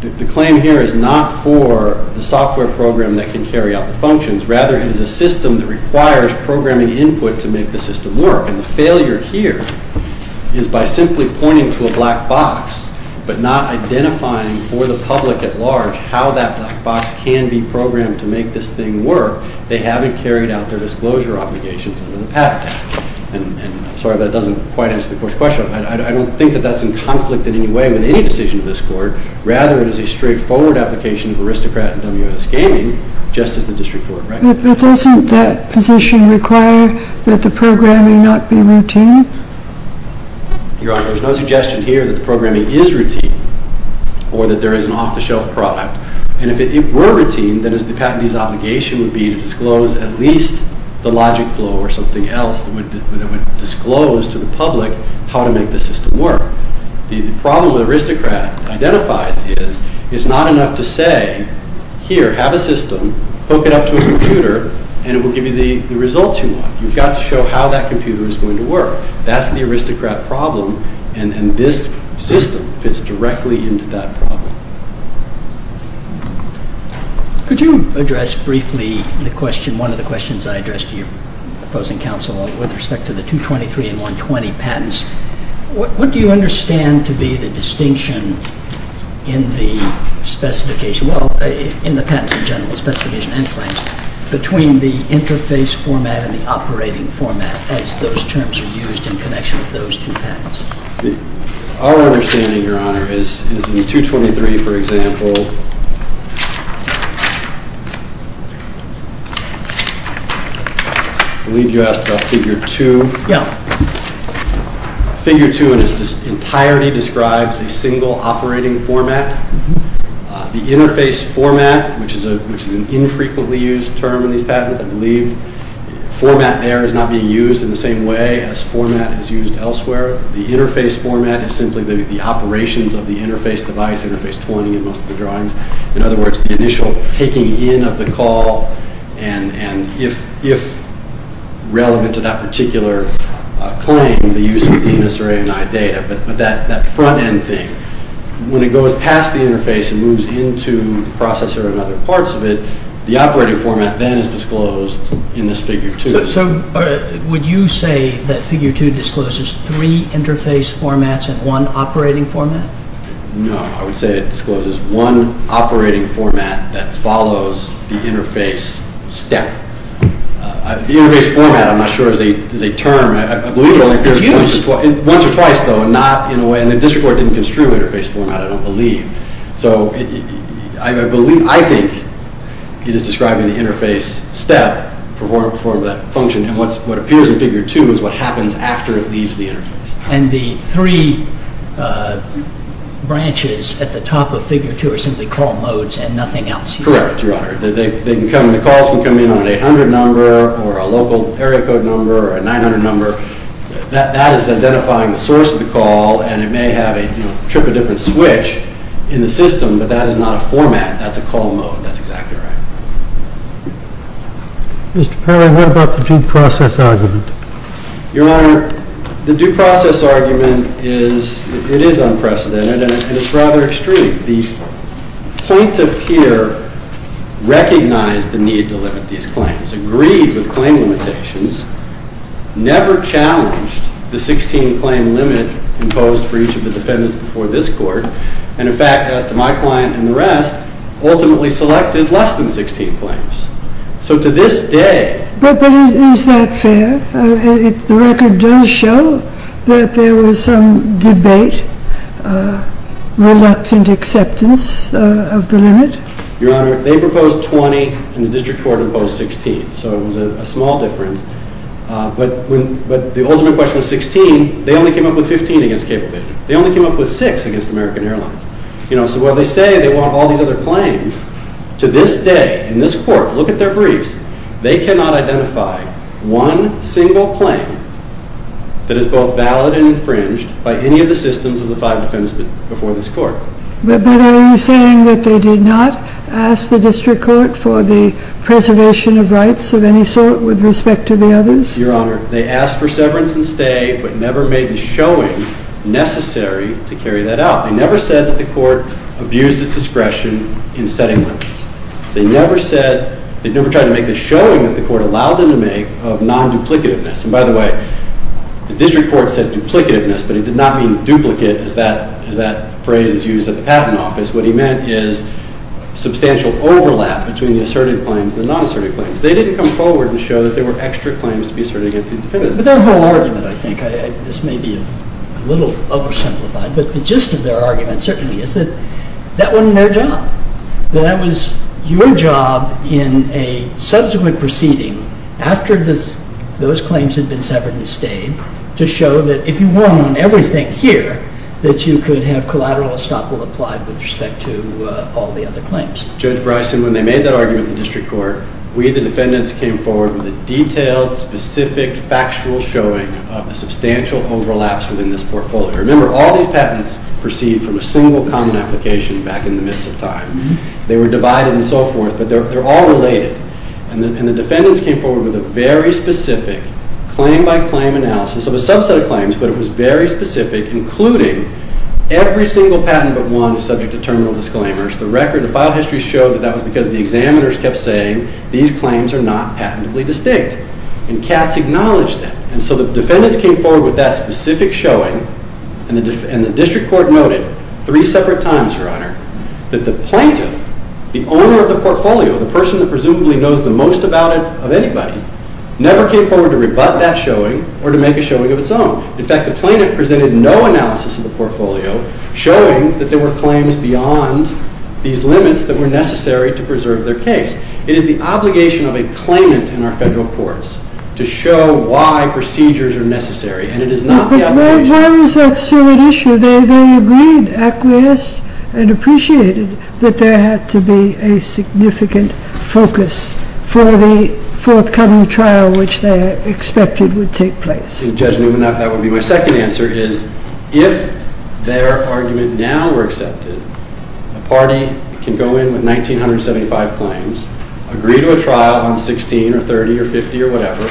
the claim here is not for the software program that can carry out the functions, rather it is a system that requires programming input to make the system work. And the failure here is by simply pointing to a black box but not identifying for the public at large how that black box can be programmed to make this thing work, they haven't carried out their disclosure obligations in the past. And, sorry, that doesn't quite answer the court's question. I don't think that that's in conflict in any way with any decision of this court. Rather it is a straightforward application of Aristocrat and WMS Gaming just as the district court, right? But doesn't that position require that the programming not be routine? Your Honor, there's no suggestion here that the programming is routine or that there is an off-the-shelf product. And if it were routine, then the academy's obligation would be to disclose at least the logic flow or something else that would disclose to the public how to make the system work. The problem with Aristocrat identifies is it's not enough to say, here, have a system, hook it up to a computer, and it will give you the results you want. You've got to show how that computer is going to work. That's the Aristocrat problem and this system fits directly into that problem. Could you address briefly the question, one of the questions I addressed to you, opposing counsel, with respect to the 223 and 120 patents? What do you understand to be the distinction in the specification, well, in the patents in general, specifications and claims, between the interface format and the operating format as those terms are used in connection with those two patents? Our understanding, Your Honor, is in the 223, for example, I believe you asked about figure two? Yeah. Figure two entirely describes the single operating format. The interface format, which is an infrequently used term in these patents, I believe, format there is not being used in the same way as format is used elsewhere. The interface format is simply the operations of the interface device, interface 20, in most of the drawings. In other words, the initial taking in of the call and if relevant to that particular claim, the use of the necessary data. But that front-end thing, when it goes past the interface and moves into the processor and other parts of it, the operating format then is disclosed in this figure two. So, would you say that figure two discloses three interface formats and one operating format? No. I would say it discloses one operating format that follows the interface step. The interface format, I'm not sure, is a term, and I believe it only appears once or twice, though, and not in a way, and the district court didn't construe the interface format, I don't believe. So, I believe, I think, it is describing the interface step for the function. What appears in figure two is what happens after it leaves the interface. And the three branches at the top of figure two are simply call modes and nothing else here? Correct. The calls can come in with an 800 number or a local area code number or a 900 number. That is identifying the source of the call and it may have a trip or dip or switch in the system, but that is not a format. That's a call mode. That's exactly right. Mr. Perry, what about the due process argument? Your Honor, the due process argument is, it is unprecedented and it's rather extreme. The plaintiff here recognized the need to limit these claims, agreed with claiming protections, never challenged the 16 claim limit imposed for each of the defendants before this court, and in fact, as to my client and the rest, ultimately selected less than 16 claims. So to this day... But is that fair? If the record does show that there was some debate, reluctant acceptance of the limit? Your Honor, they proposed 20 and the district court proposed 16. So it was a small difference. But the ultimate question was 16. They only came up with 15 against cable business. They only came up with 6 against American Airlines. So while they say they want all the other claims, to this day, in this court, look at their briefs, they cannot identify one single claim that is both valid and infringed by any of the systems of the five defendants before this court. But are you saying that they did not ask the district court for the preservation of rights of any sort with respect to the others? Your Honor, they asked for severance and stay but never made the showing necessary to carry that out. They never said that the court abused its discretion in setting limits. They never said, they never tried to make the showing that the court allowed them to make of non-duplicativeness. And by the way, the district court said duplicativeness but it did not mean duplicate as that phrase is used at the patent office. What he meant is substantial overlap between the asserted claims and the non-asserted claims. They didn't come forward and show that there were extra claims to be asserted against these defendants. But they're more large than that, I think. This may be a little oversimplified but the gist of their argument certainly is that that wasn't their job. That it was your job in a subsequent proceeding after those claims had been severed and stayed to show that if you want on everything here that you could have collateral supple applied with respect to all the other claims. Judge Bryson, when they made that argument to the district court we the defendants came forward with a detailed, specific, factual showing of the substantial overlaps within this portfolio. Remember, all these patents proceed from a single common application back in the midst of time. They were divided and so forth but they're all related. And the defendants came forward with a very specific claim by claim analysis. It was a subset of claims but it was very specific including every single patent that won subject to terminal disclaimers. The record, the file histories show that that was because the examiners kept saying these claims are not patently distinct. And Katz acknowledged that. And so the defendants came forward with that specific showing and the district court noted three separate times, Your Honor, that the plaintiff, the owner of the portfolio, the person who presumably knows the most about it of anybody, never came forward to rebut that showing or to make a showing of its own. In fact, the plaintiff presented no analysis of the portfolio showing that there were claims beyond these limits It is the obligation of a claimant in our federal courts to show why procedures are necessary and it is not the obligation of the plaintiff to show why procedures are necessary and it is not the obligation of the plaintiff of the plaintiffs to show why Well, sometimes that's still an issue they've already agreed and acquiesce and appreciated that there had to be a significant focus for the forthcoming trial which they expected would take place Judge Newhan, that would be my second answer, is if their arguments now were accepted the party can go in with 1975 claims agree to a trial on 16 or 30 or 50 or whatever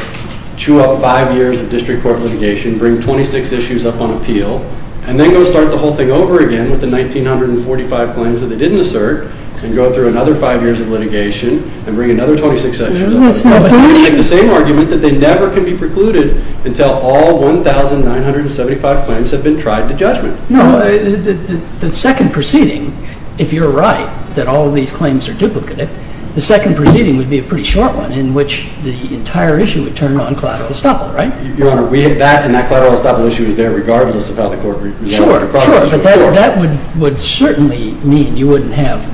chew up five years of district court litigation bring 26 issues up on appeal and then go start the whole thing over again with the 1945 claims that they didn't assert and go through another five years of litigation and bring another 26 issues up and make the same argument that they never could be precluded until all 1975 claims had been tried to judgment No, the second proceeding if you're right that all of these claims are duplicative the second proceeding would be a pretty short one in which the entire issue would turn around collateral estoppel, right? Your Honor, we hit back and that collateral estoppel issue is there regardless about the court Sure, but that would certainly mean you wouldn't have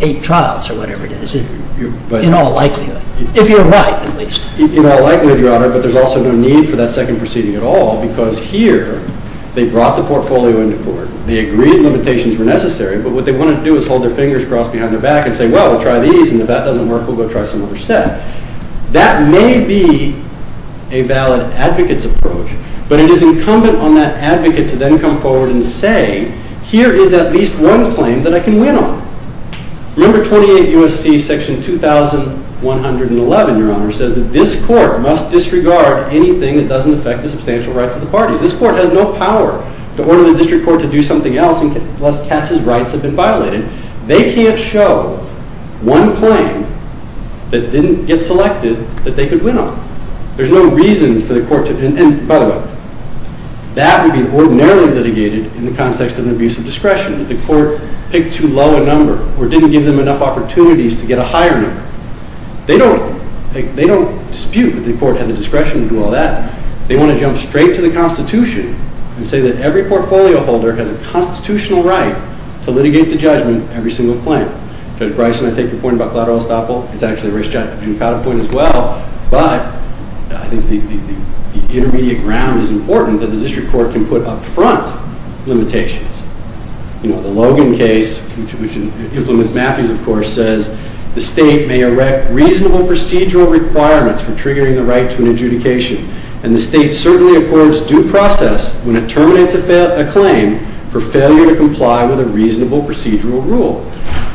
eight trials or whatever it is in all likelihood if you're right at least In all likelihood, Your Honor, but there's also no need for that second proceeding at all because here they brought the portfolio into court they agreed limitations were necessary but what they wanted to do is hold their fingers crossed behind their back and say well, we'll try these and if that doesn't work we'll go try some other sets That may be a valid advocate's approach but it is incumbent on that advocate to then come forward and say here is at least one claim that I can win on Remember 28 U.S.C. Section 2111 Your Honor says that this court must disregard anything that doesn't affect the substantial rights of the parties This court has no power to order the district court to do something else unless Katz's rights have been violated They can't show one claim that didn't get selected that they could win on There's no reason for the court to That would be the case district court didn't give them enough opportunities to get a hiring They don't dispute that the court has the discretion to do all that They want to jump straight to the Constitution and say that every portfolio holder has a Constitutional right to litigate the judgment of every portfolio holder The state may erect reasonable procedural requirements for triggering the right to an adjudication The state certainly affords due process when it terminates a claim for failure to comply with a reasonable procedural rule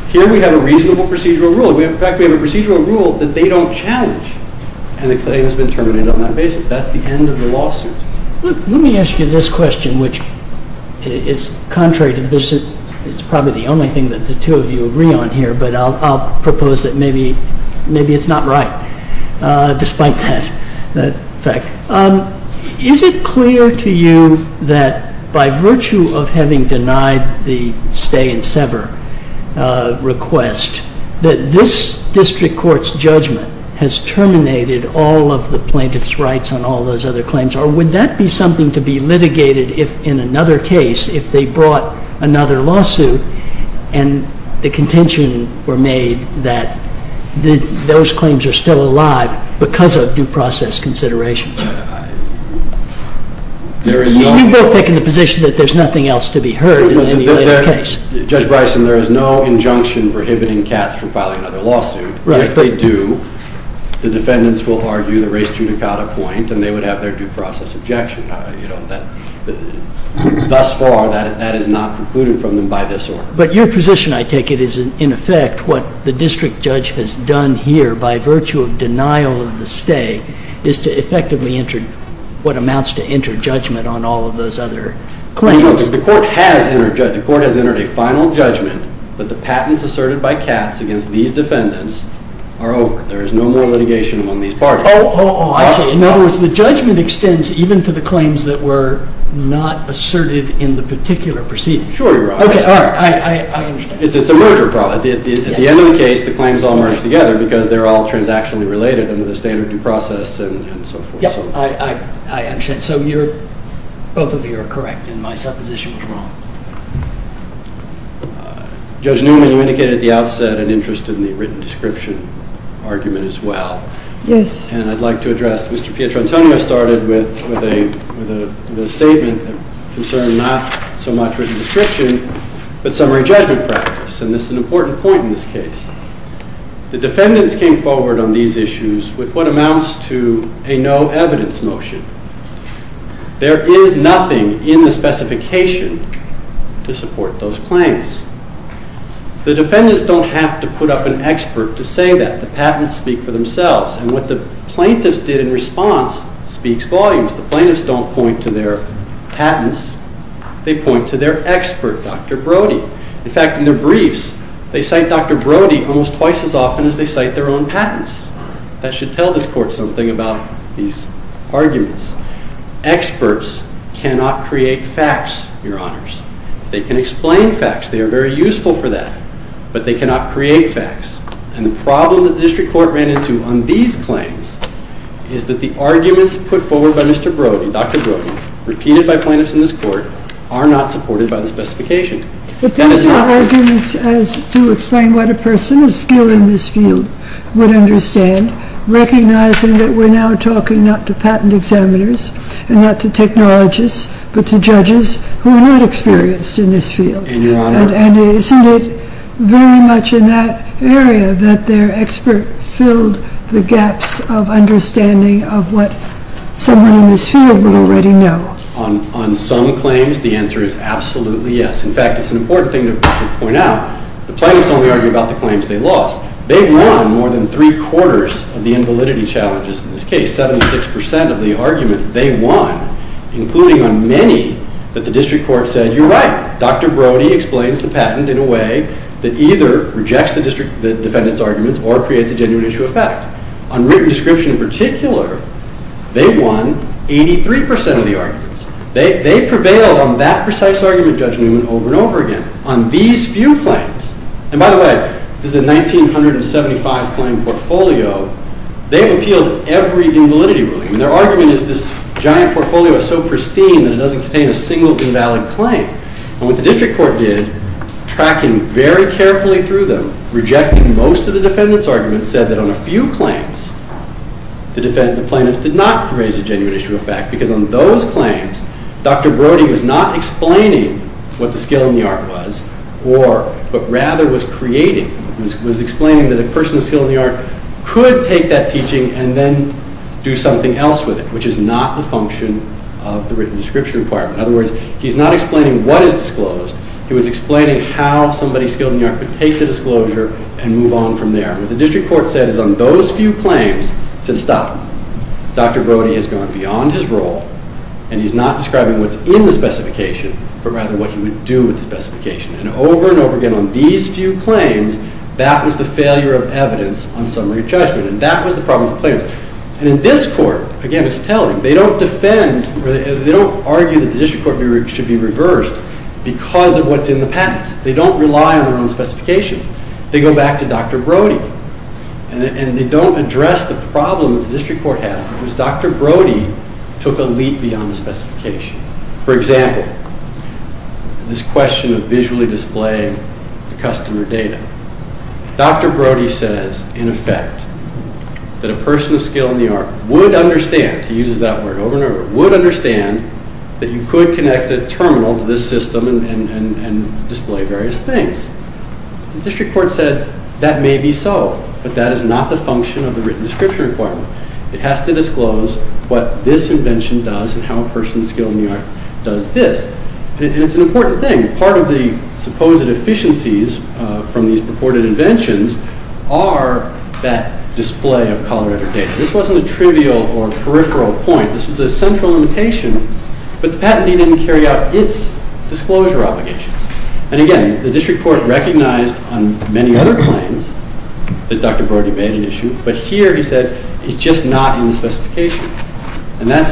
Here we have a reasonable procedural rule that they don't challenge and the claim has been terminated on that basis That's the end of the lawsuit Let me ask you this question which is contrary to this I'll propose that maybe it's not right Despite that Is it clear to you that by virtue of having denied the stay and sever request that this district court's judgment has terminated all of the plaintiff's rights on all those other claims or would that be something to be litigated in another case if they brought another case in another case Judge Bryson there is no injunction prohibiting cats from filing another lawsuit If they do the defendants would have their due process objection Thus far that is not concluded by this order The defendants came forward on these issues with what amounts to a no evidence motion. There is nothing in specification to support those claims. The defendants don't have to put up an expert to say that. The plaintiffs did in response point to their expert Dr. Brody. In their briefs they cite Dr. Brody twice as often as their own patents. Experts cannot create facts. They can explain facts. They are very useful for that. But they cannot create facts. The problem is that the evidence put forward by Dr. Brody repeated by plaintiffs in this court are not supported by the specification. The defendants have no evidence to explain what a person in this field would understand recognizing that we are now talking not to patent examiners and not to technologists but to judges who were not experienced in this field. And it is very much in that area that their experts filled the gaps of understanding of what someone in this field would already know. On some claims the answer is absolutely yes. In fact it is important to point out the plaintiffs only argue about the claims they lost. They won more than three quarters of the invalidity challenges. In this case 76% of the arguments they won including many that the district court said you are right. Dr. Brody explains the patent in a way that either rejects the argument or creates a genuine issue of fact. They won 83% of the arguments. They prevailed every time. Their argument is so pristine that it doesn't contain a single invalid claim. What the district court did was reject most of the arguments and said on a few claims it did not create a genuine issue of fact. On those few district court said you can do something else with it which is not the function of the written description requirement. He is not explaining what is disclosed. The district court said on those few claims it genuine issue of fact. The district court said stop them. Brody is going beyond his role. He is not describing what is in the specification but rather what he would do with the specification. Over and over again on these few claims that was the failure of evidence. They don't argue that the district court should be reversed because of what is in the patent. They don't rely on the specification. They go back to Dr. Brody and they don't argue him. It is a question of visually displaying customer data. Dr. Brody says in effect that a person would understand that you could connect the system and display various things. The patent doesn't carry out its disclosure obligations. The district court recognized many other claims that Dr. Brody made, but here he said it is just not in the specification. When that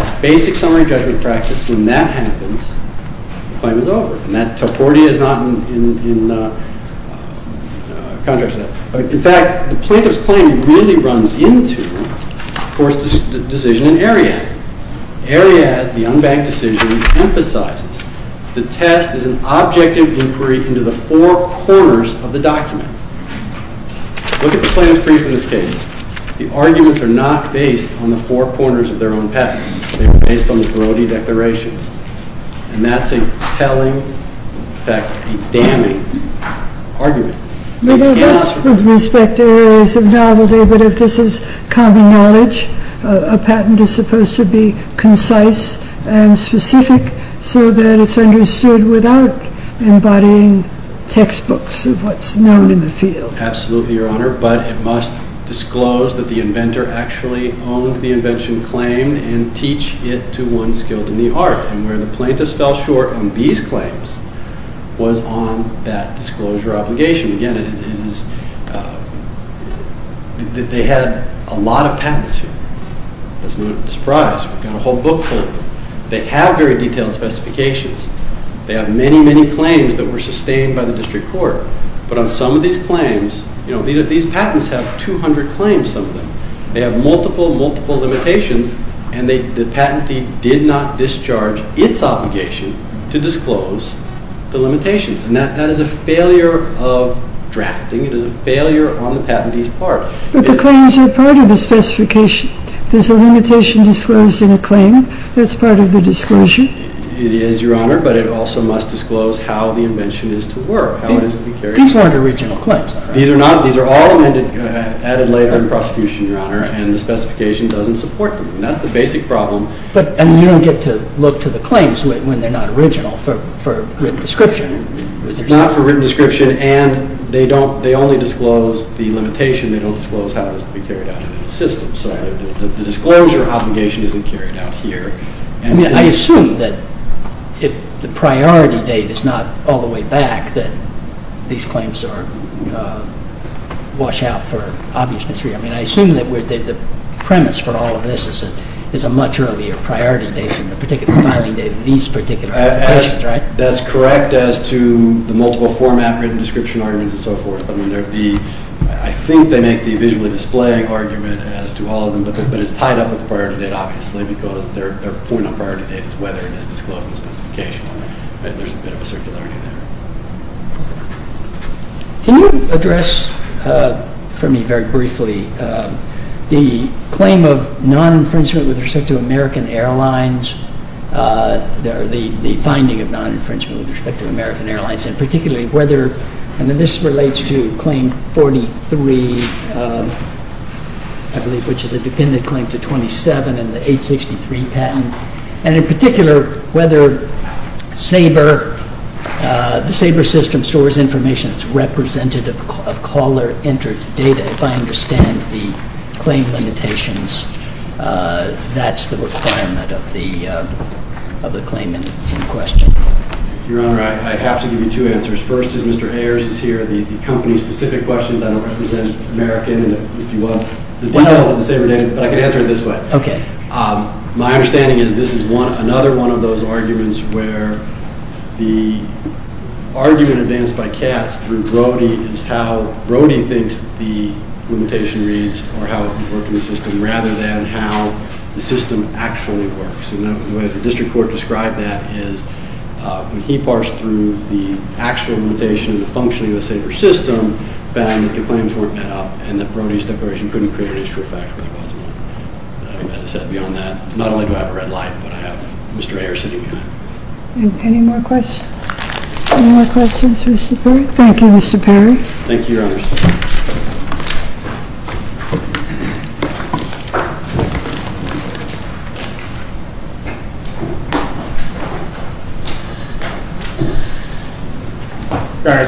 happens, the claim is over. In fact, the plaintiff's claim really runs into the decision in Ariadne. Ariadne emphasizes that the test is an objective inquiry into the four corners of the document. The arguments are not based on the disclosure obligation. The plaintiff fell short on these claims. They have a lot of patents. They have very detailed specifications. They have many claims that were sustained by the district court. These patents have 200 claims. They have multiple limitations, and the patentee did not discharge its obligation to disclose the limitations. That is a failure of drafting. It is a failure on the patentee's part. But the claims are part of the specification. There's no disclose the limitations. They are all added later in the prosecution and the specification doesn't support them. That's the basic problem. We don't get to look to the claims when they are not original for written description. Not for written description and they only disclose the limitation. The disclosure obligation isn't carried out here. I assume that if the priority date is not all the way back, these claims wash out. I think that's correct as to the multiple format and so forth. I think they make the visual display argument but it's tied up with the priority date. Can you address for me very briefly the claim of non infringement with respect to American Airlines and particularly whether this relates to claim 43 which is a dependent claim to 27 and 863 patent and in particular whether the system stores information that's representative of caller of interest data. If I understand the claim limitations that's the requirement of the claim and the question. Your Honor, I have to give you two answers. First is Mr. Ayers. My understanding is this is another one of those cases is not representative of caller of interest data.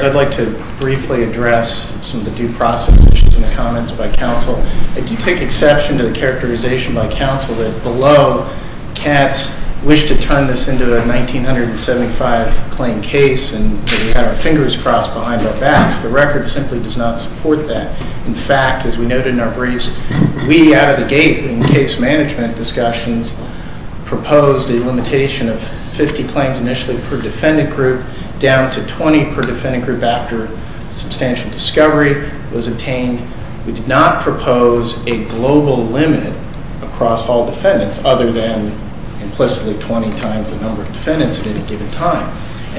I would like to briefly address some of the comments by counsel. If you take exception to the characterization by counsel in this case, the record simply does not support that. In fact, as we noted in our briefs, we out of the gate in case management discussions proposed the limitation of 50 claims initially per defendant group down to 20 per defendant group after substantial discovery was obtained. We did not propose a global limit across all defendants other than implicitly 20 times the number of defendants at any given time.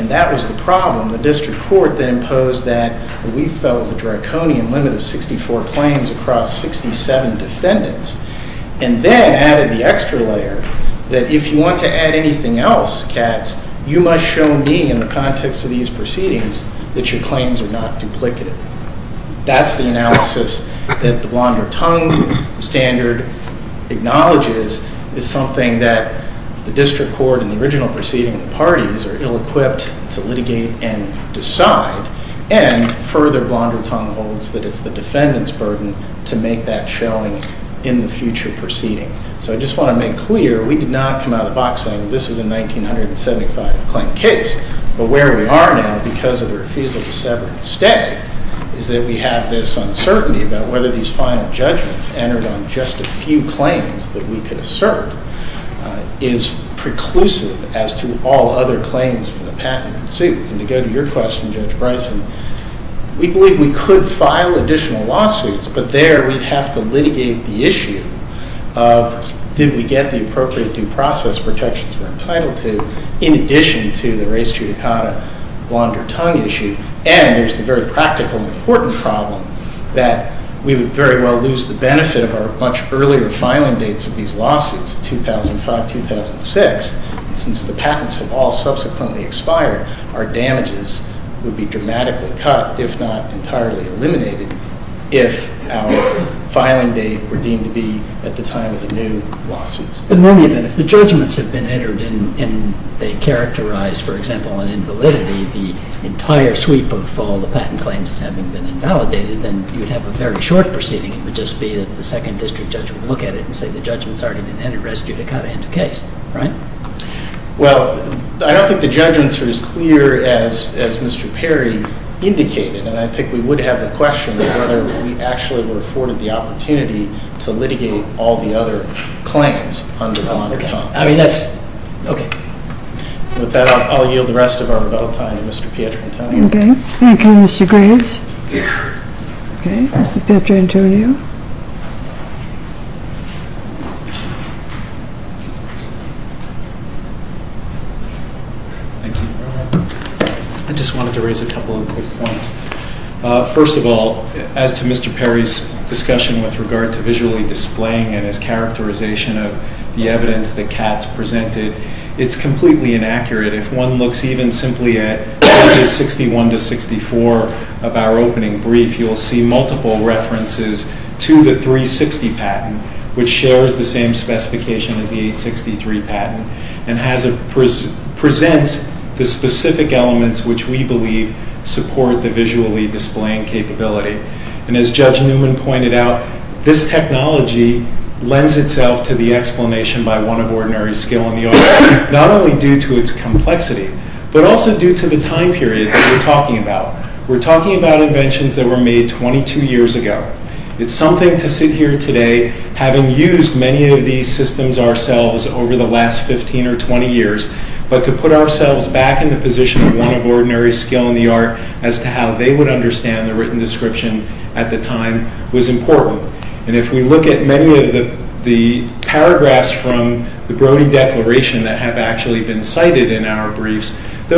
That was a problem. The district court imposed that we felt the draconian limit of 64 claims across 67 defendants, and then added the extra layer that if you want to add anything else, you must show me in the context of these proceedings that your claims are not duplicative. That's the analysis that the standard acknowledges is something that the district has to do. We did not come out of the box saying this is a 1975 claim case, but where we are now is that we have this uncertainty about whether these final judgments entered on the basis as the other claims. We believe we could file additional but there we have to litigate the issue of did we get the appropriate due process protections in addition to the other We believe that we could have much earlier filing dates of these lawsuits 2005-2006 since the patents have all subsequently expired are damages that would be dramatically cut if not entirely eliminated if our filing date were deemed to be at the time of the new lawsuits. If the judgments have been entered and they characterize an invalidity the entire sweep of all the patent claims have been invalidated then you would have a very short proceeding. The second district would look at it and say the judgments are independent. I don't think the judgments are as clear as Mr. Perry indicated. I think we would have a question of whether we have or an inaccurate judgment. Mr. Perri? Okay, I'll ask Dr. Antonio. I just want to raise a couple of points. First of all, as to Mr. Perry's discussion with regard to visually displaying and his characterization of the evidence that Katz presented, it's completely inaccurate. If one looks at 61-64 of our opening brief, you'll see multiple references to the 360 patent which shares the same specification and presents the specific elements which we believe support the visually displaying capability. This technology lends itself to the explanation not only due to its complexity but also due to the time period. We're talking about inventions made 22 years ago. It's something to sit here and look at. haven't been able to put ourselves back into position as to how they would understand the written description at the time was important. If we look at the paragraphs from the declaration that have been cited in our document, we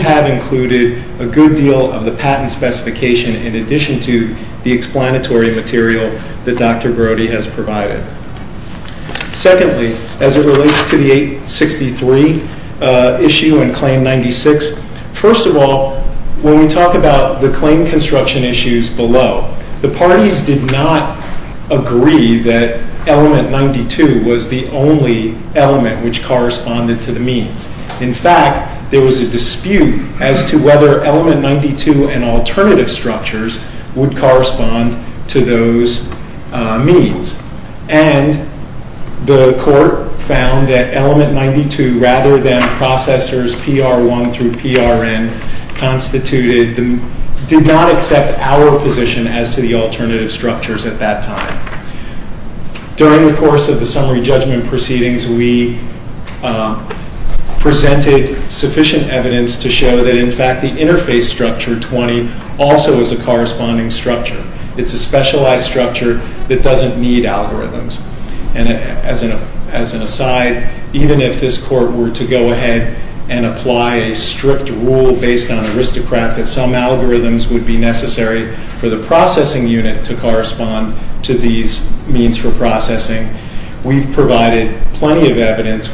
have included a good deal of the patent specification in addition to the explanatory material that Dr. Brody has provided. Secondly, as it relates to the 863 issue and claim 96, first of all, when we talk about the claim construction issues below, the parties did not agree that element 92 was the only element which corresponded to the means. In fact, there was a dispute as to whether element 92 and alternative structures would correspond to those means. And the court found that element 92, rather than processors PR1 through PRN, did not accept our position as to the alternative structures at that time. During the course of the summary judgment proceedings, we presented sufficient evidence to show that the interface structure 20 also is a corresponding structure. It's a specialized structure that doesn't need algorithms. As an aside, even if this court were to go ahead and apply a strict rule that some algorithms would be necessary for the processing unit to correspond to these means for processing we presented sufficient evidence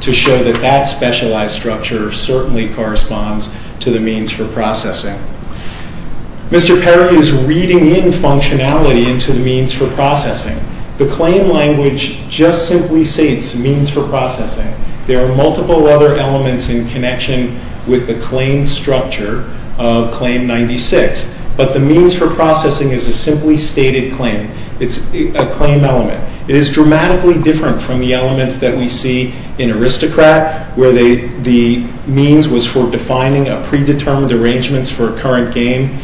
to show that that specialized structure certainly corresponds to the means for processing. Mr. Perry is reading functionality into the means for processing. The claim language just simply states means for processing. There are a do that. It's dramatically different from the elements that we see in aristocrat where the means was for defining a predetermined arrangement for a current game.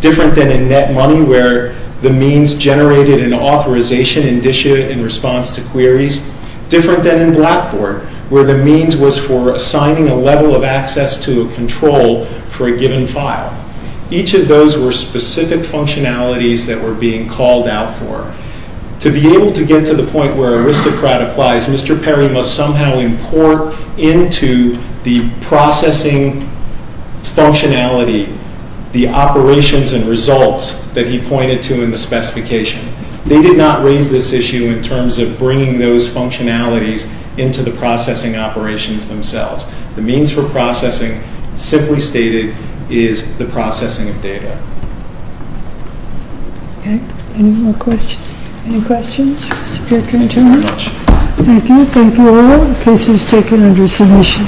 Different than in net money where the means generated an authorization in response to queries. Different than in blackboard where the means was for assigning a level of access to a control for a given file. Each of those were specific functionalities that were being called out for. To be able to get to the point where aristocrat applies, Mr. Perry must be able to get to the point where the means for processing simply stated is the processing of data. Any more questions? Thank you all. The case is taken under solution.